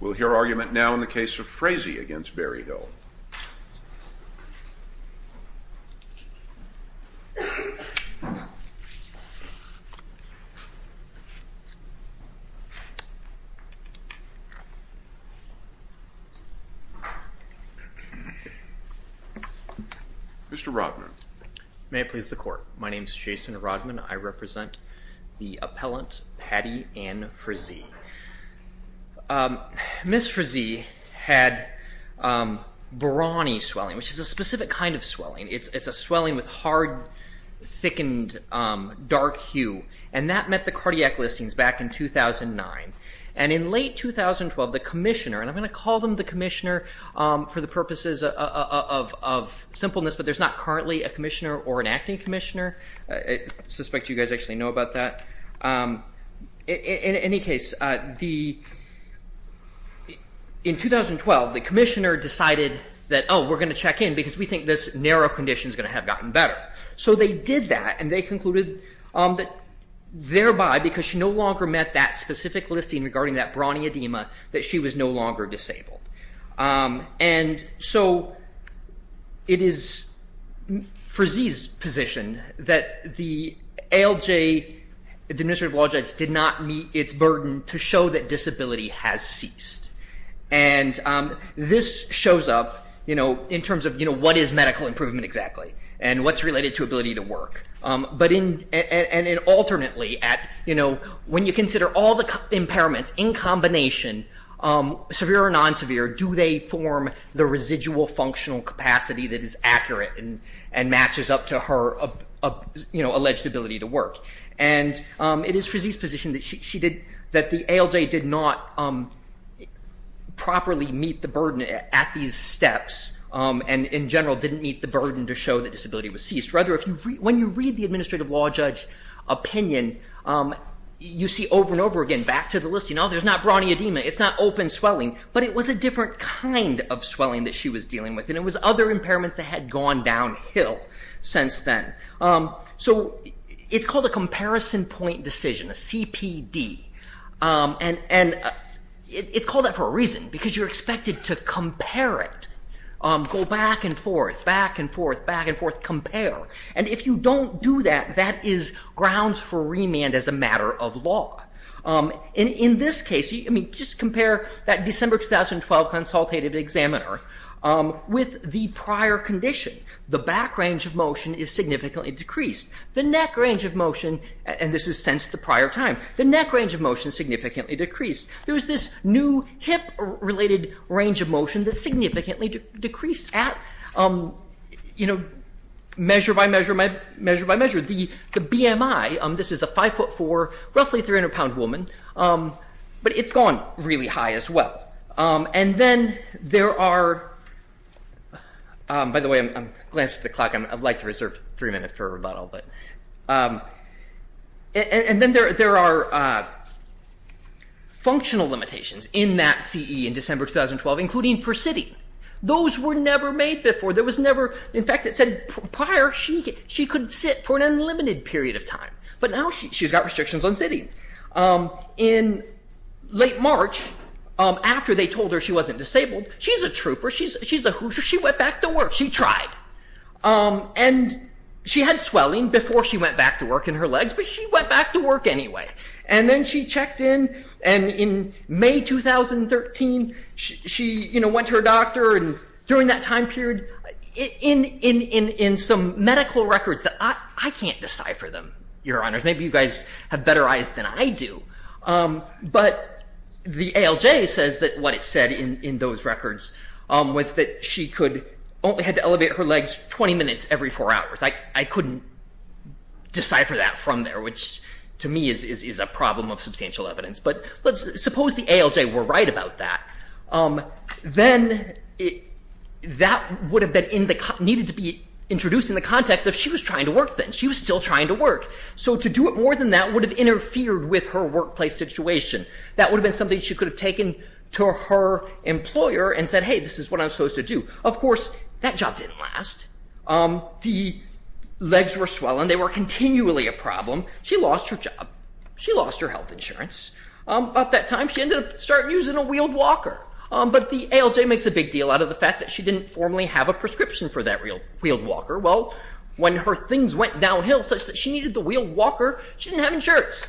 We'll hear argument now in the case of Frazee against Berryhill. Mr. Rodman. May it please the court. My name is Jason Rodman. I represent the Ms. Frazee had brawny swelling, which is a specific kind of swelling. It's a swelling with hard, thickened, dark hue. And that met the cardiac listings back in 2009. And in late 2012, the commissioner, and I'm going to call them the commissioner for the purposes of simpleness, but there's not currently a commissioner or an acting commissioner. I had the, in 2012, the commissioner decided that, oh, we're going to check in because we think this narrow condition is going to have gotten better. So they did that and they concluded that thereby, because she no longer met that specific listing regarding that brawny edema, that she was no longer disabled. And so it is Frazee's position that the ALJ, the disability has ceased. And this shows up, you know, in terms of, you know, what is medical improvement exactly and what's related to ability to work. But in, and it alternately at, you know, when you consider all the impairments in combination, severe or non-severe, do they form the residual functional capacity that is accurate and matches up to her alleged ability to work? And it is Frazee's position that she did, that the ALJ did not properly meet the burden at these steps and in general didn't meet the burden to show that disability was ceased. Rather, when you read the administrative law judge opinion, you see over and over again, back to the listing, oh, there's not brawny edema, it's not open swelling, but it was a different kind of swelling that she was dealing with. And it was other impairments that had gone downhill since then. So it's called a comparison point decision, a CPD. And it's called that for a reason, because you're expected to compare it. Go back and forth, back and forth, back and forth, compare. And if you don't do that, that is grounds for remand as a matter of law. In this case, I mean, just compare that December 2012 consultative examiner with the prior condition. The back range of motion is significantly decreased. The neck range of motion, and this is since the prior time, the neck range of motion significantly decreased. There was this new hip related range of motion that significantly decreased at measure by measure by measure. The BMI, this is a 5 foot 4, roughly 300 pound woman, but it's gone really high as well. And then there are, by the way, I'm glancing at the clock, I'd like to reserve three minutes for a rebuttal, but, and then there are functional limitations in that CE in December 2012, including for sitting. Those were never made before. There was never, in fact, it said prior, she could sit for an unlimited period of time, but now she's got restrictions on sitting. In late March, after they told her she wasn't disabled, she's a trooper, she's a hoosier, she went back to work. She tried. And she had swelling before she went back to work in her legs, but she went back to work anyway. And then she checked in and in May 2013, she went to her doctor and during that time period, in some medical records that I can't decipher them, your honors, maybe you guys have better eyes than I do, but the ALJ says that what it said in those records was that she could only had to elevate her legs 20 minutes every four hours. I couldn't decipher that from there, which to me is a problem of substantial evidence. But let's suppose the ALJ were right about that. Then that would have needed to be introduced in the context of she was trying to work then. She was still trying to work. So to do it more than that would have interfered with her workplace situation. That would have been something she could have taken to her employer and said, hey, this is what I'm supposed to do. Of course, that job didn't last. The legs were swollen. They were continually a problem. She lost her job. She lost her health and she needed a wheeled walker. But the ALJ makes a big deal out of the fact that she didn't formally have a prescription for that wheeled walker. Well, when her things went downhill such that she needed the wheeled walker, she didn't have insurance.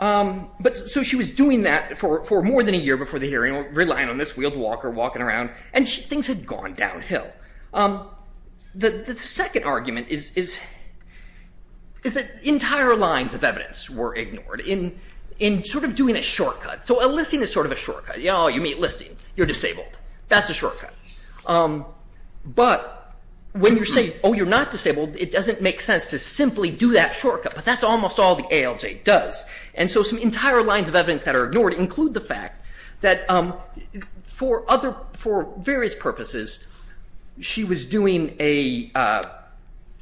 So she was doing that for more than a year before the hearing, relying on this wheeled walker walking around, and things had gone downhill. The second argument is that entire lines of evidence were ignored in sort of doing a shortcut. So a listing is sort of a shortcut. You meet a listing. You're disabled. That's a shortcut. But when you're saying, oh, you're not disabled, it doesn't make sense to simply do that shortcut. But that's almost all the ALJ does. And so some entire lines of evidence that are ignored include the fact that for various purposes, she was doing a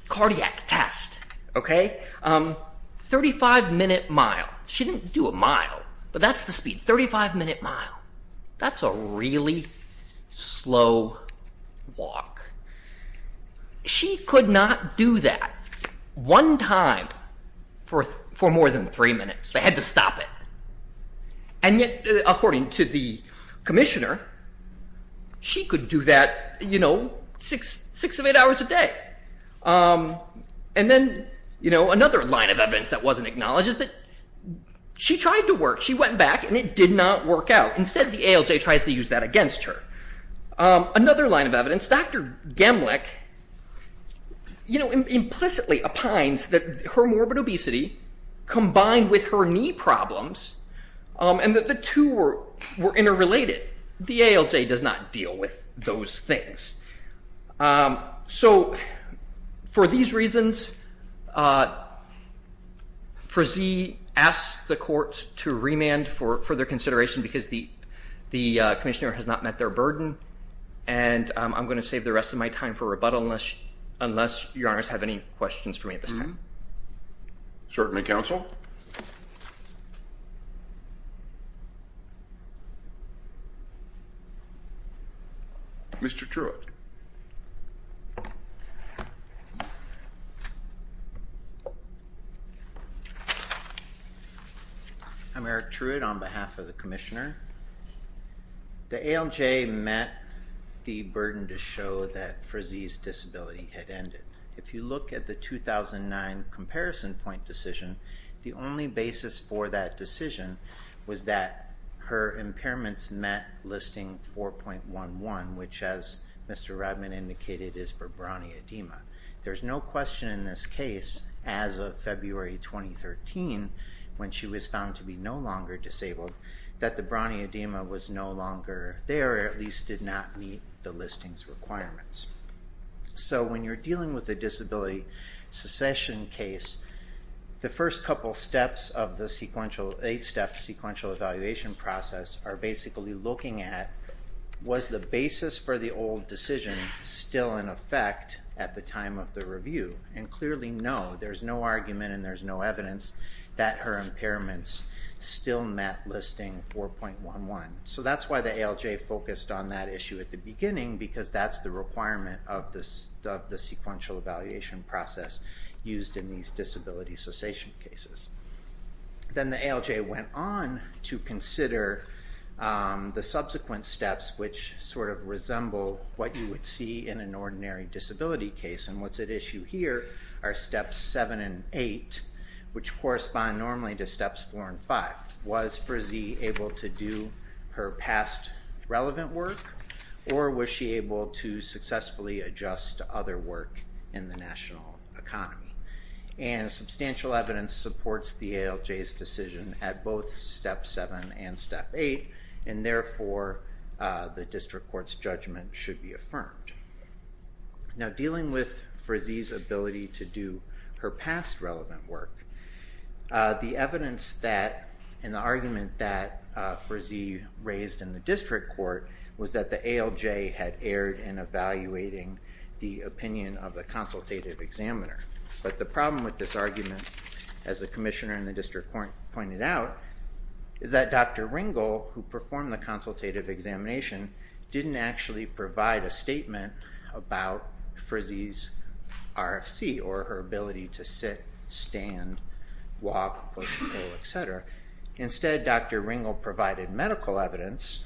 cardiac test, a 35-minute mile. She didn't do a mile, but that's the speed, 35-minute mile. That's a really slow walk. She could not do that one time for more than three minutes. They had to stop it. And yet, according to the commissioner, she could do that, you know, six of eight hours a day. And then, you know, another line of evidence that wasn't acknowledged is that she tried to work. She went back, and it did not work out. Instead, the ALJ tries to use that against her. Another line of evidence, Dr. Gemlich, you know, implicitly opines that her morbid obesity combined with her knee problems and that the two were interrelated. The ALJ does not deal with those things. So for these reasons, Frazee asks the court to remand for further consideration because the commissioner has not met their burden. And I'm going to save the rest of my time for rebuttal unless your honors have any questions for me at this time. Certainly, counsel. Mr. Truitt. I'm Eric Truitt on behalf of the commissioner. The ALJ met the burden to show that Frazee's 2009 comparison point decision, the only basis for that decision was that her impairments met listing 4.11, which, as Mr. Redman indicated, is for brony edema. There's no question in this case, as of February 2013, when she was found to be no longer disabled, that the brony edema was no longer there, or at least did not meet the listing's requirements. So when you're dealing with a disability secession case, the first couple steps of the eight-step sequential evaluation process are basically looking at, was the basis for the old decision still in effect at the time of the review? And clearly, no. There's no argument and there's no evidence that her impairments still met listing 4.11. So that's why the ALJ focused on that issue at the beginning, because that's the requirement of the sequential evaluation process used in these disability cessation cases. Then the ALJ went on to consider the subsequent steps, which sort of resemble what you would see in an ordinary disability case, and what's at issue here are steps 7 and 8, which correspond normally to steps 4 and 5. Was Frizee able to do her past relevant work, or was she able to successfully adjust to other work in the national economy? And substantial evidence supports the ALJ's decision at both step 7 and step 8, and therefore the district court's judgment should be affirmed. Now dealing with Frizee's ability to do her past relevant work, the evidence that, and the argument that Frizee raised in the district court, was that the ALJ had erred in evaluating the opinion of the consultative examiner. But the problem with this argument, as the commissioner and the district court pointed out, is that Dr. Ringel, who performed the consultative examination, didn't actually provide a statement about Frizee's RFC, or her ability to sit, stand, walk, push, pull, etc. Instead Dr. Ringel provided medical evidence,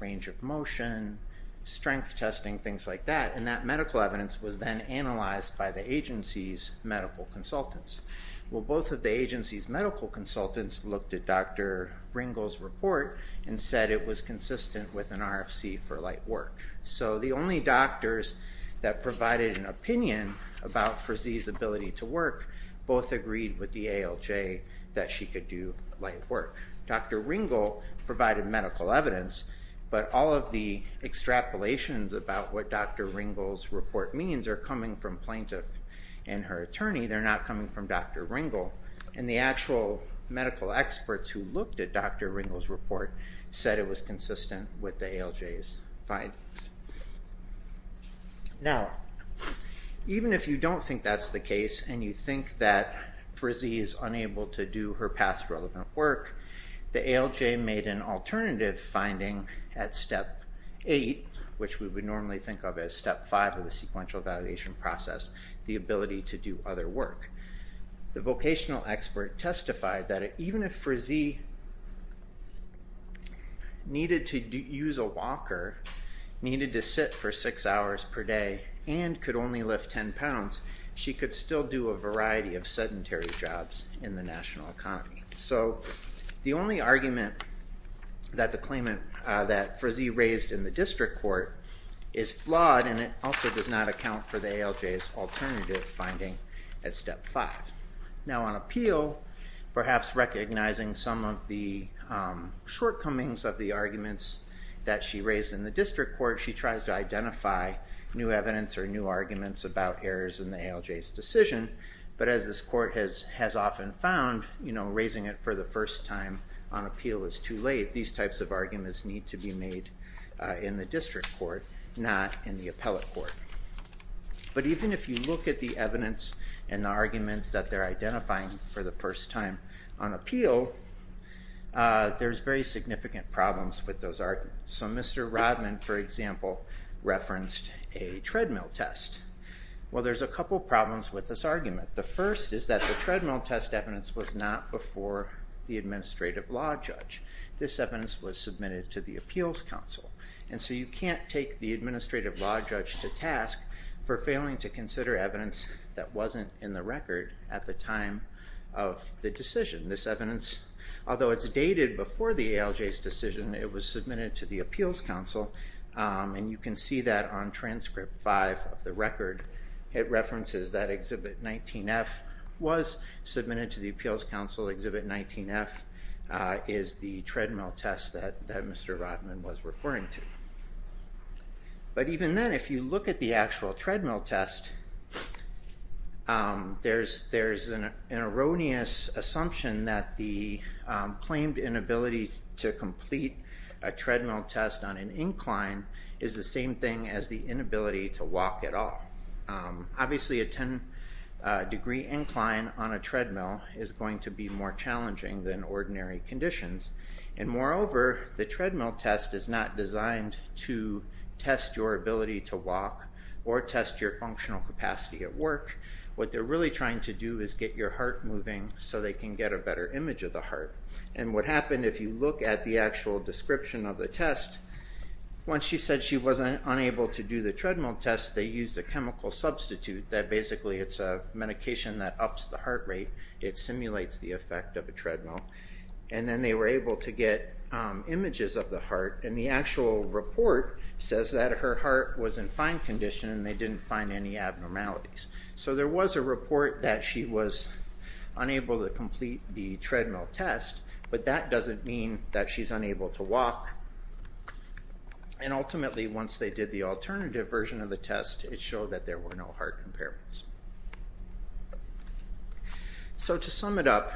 range of motion, strength testing, things like that, and that medical evidence was then analyzed by the agency's medical consultants. Well both of the agency's medical consultants looked at Dr. Ringel's report and said it was consistent with an RFC for light work. So the only doctors that provided an opinion about Frizee's ability to work both agreed with the ALJ that she could do light work. Dr. Ringel provided medical evidence, but all of the extrapolations about what Dr. Ringel's report means are coming from plaintiff and her attorney, they're not coming from Dr. Ringel, and the actual medical experts who looked at Dr. Ringel's report said it was consistent with the ALJ's findings. Now even if you don't think that's the case, and you think that Frizee is unable to do her past relevant work, the ALJ made an alternative finding at Step 8, which we would normally think of as Step 5 of the sequential evaluation process, the ability to do other work. The vocational expert testified that even if Frizee needed to use a walker, needed to sit for 6 hours per day, and could only lift 10 pounds, she could still do a variety of sedentary jobs in the national economy. So the only argument that the claimant, that Frizee raised in the district court, is flawed and it also does not account for the ALJ's alternative finding at Step 5. Now on appeal, perhaps recognizing some of the shortcomings of the arguments that she raised in the district court, she tries to identify new evidence or new arguments about errors in the ALJ's decision, but as this court has often found, raising it for the first time on appeal is too late. These types of arguments need to be made in the district court, not in the appellate court. But even if you look at the evidence and the arguments that they're identifying for the first time on appeal, there's very significant problems with those arguments. So Mr. Rodman, for example, referenced a treadmill test. Well there's a couple problems with this argument. The first is that the treadmill test evidence was not before the administrative law judge. This evidence was submitted to the appeals council. And so you can't take the administrative law judge to task for failing to consider evidence that wasn't in the record at the time of the decision. This evidence, although it's dated before the ALJ's decision, it was submitted to the appeals council and you can see that on transcript 5 of the record. It references that Exhibit 19F was submitted to the appeals council. Exhibit 19F is the treadmill test that Mr. Rodman was referring to. But even then, if you look at the actual treadmill test, there's an erroneous assumption that the claimed inability to complete a treadmill test on an incline is the same thing as the claim that a treadmill is going to be more challenging than ordinary conditions. And moreover, the treadmill test is not designed to test your ability to walk or test your functional capacity at work. What they're really trying to do is get your heart moving so they can get a better image of the heart. And what happened, if you look at the actual description of the test, once she said she wasn't unable to do the treadmill test, they used a chemical substitute that basically it's a medication that ups the heart rate. It simulates the effect of a treadmill. And then they were able to get images of the heart and the actual report says that her heart was in fine condition and they didn't find any abnormalities. So there was a report that she was unable to complete the treadmill test, but that doesn't mean that she's unable to walk. And ultimately, once they did the alternative version of the test, it showed that there were no heart impairments. So to sum it up,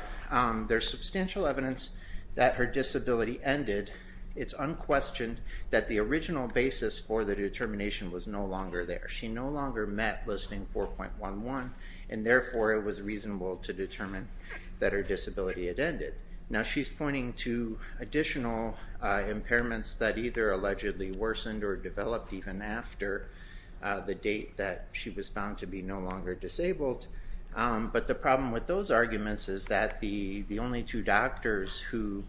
there's substantial evidence that her disability ended. It's unquestioned that the original basis for the determination was no longer there. She no longer met Listing 4.11 and therefore it was reasonable to determine that her disability had ended. Now she's pointing to additional impairments that either allegedly worsened or developed even after the date that she was found to be no longer disabled. But the problem with those arguments is that the only two doctors who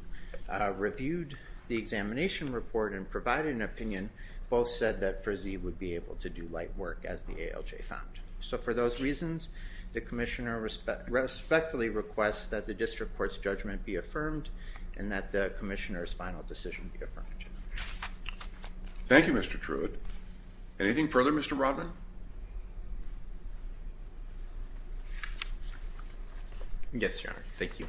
reviewed the examination report and provided an opinion both said that Frizzee would be able to do light work as the ALJ found. So for those reasons, the Commissioner respectfully requests that the District Court's judgment be affirmed and that the Commissioner's final decision be affirmed. Thank you, Mr. Truitt. Anything further, Mr. Rodman? Yes, Your Honor. Thank you.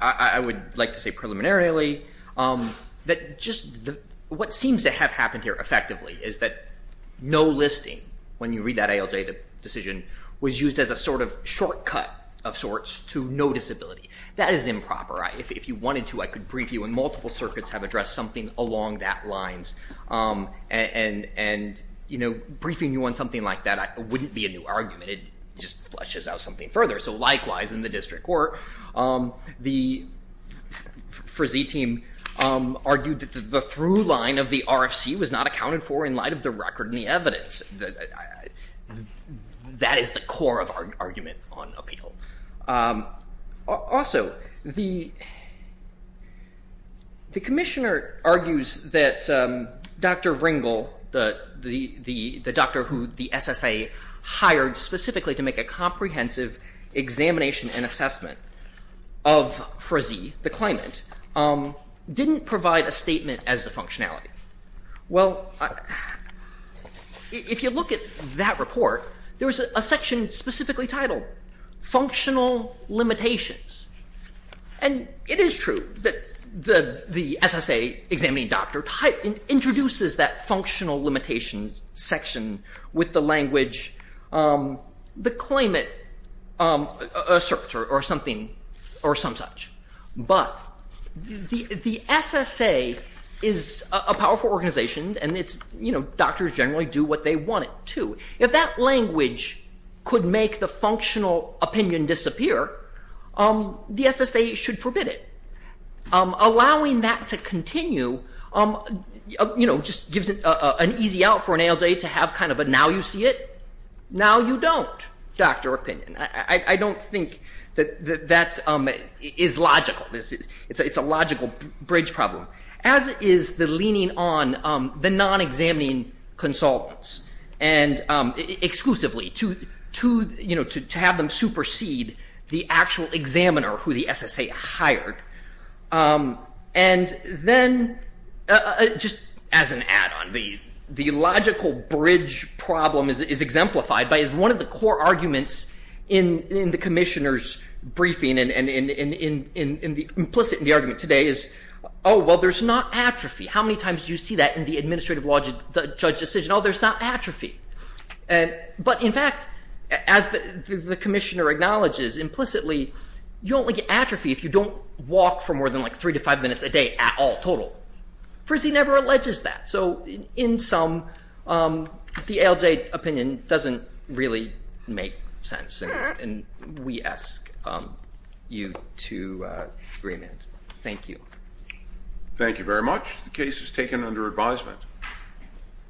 I would like to say preliminarily that just what seems to have happened here effectively is that no listing when you read that ALJ decision was used as a sort of shortcut of sorts to no disability. That is improper. If you wanted to, I could brief you and multiple circuits have addressed something along that lines. And briefing you on something like that wouldn't be a new argument. It just fleshes out something further. So likewise, in the District Court, the Frizzee team argued that the throughline of the RFC was not accounted for in light of the record and the evidence. That is the core of our argument on appeal. Also, the Commissioner argues that Dr. Ringel, the doctor who the SSA hired specifically to make a comprehensive examination and assessment of Frizzee, the functionality. Well, if you look at that report, there was a section specifically titled Functional Limitations. And it is true that the SSA examining doctor introduces that functional limitation section with the language, the claimant asserts or something or some such. But the SSA is a powerful organization and doctors generally do what they want to. If that language could make the functional opinion disappear, the SSA should forbid it. Allowing that to continue just gives an easy out for an ALJ to have kind of a now you see it, now you don't doctor opinion. I don't think that that is logical. It's a logical bridge problem. As is the leaning on the non-examining consultants exclusively to have them supersede the actual examiner who the SSA hired. And then, just as an add-on, the logical bridge problem is one of the core arguments in the commissioner's briefing and implicit in the argument today is oh, well, there's not atrophy. How many times do you see that in the administrative law judge decision? Oh, there's not atrophy. But in fact, as the commissioner acknowledges implicitly, you only get atrophy if you don't walk for more than like three to five minutes a day at all total. Frizzee never alleges that. So in sum, the ALJ opinion doesn't really make sense and we ask you to agree. Thank you. Thank you very much. The case is taken under advisement.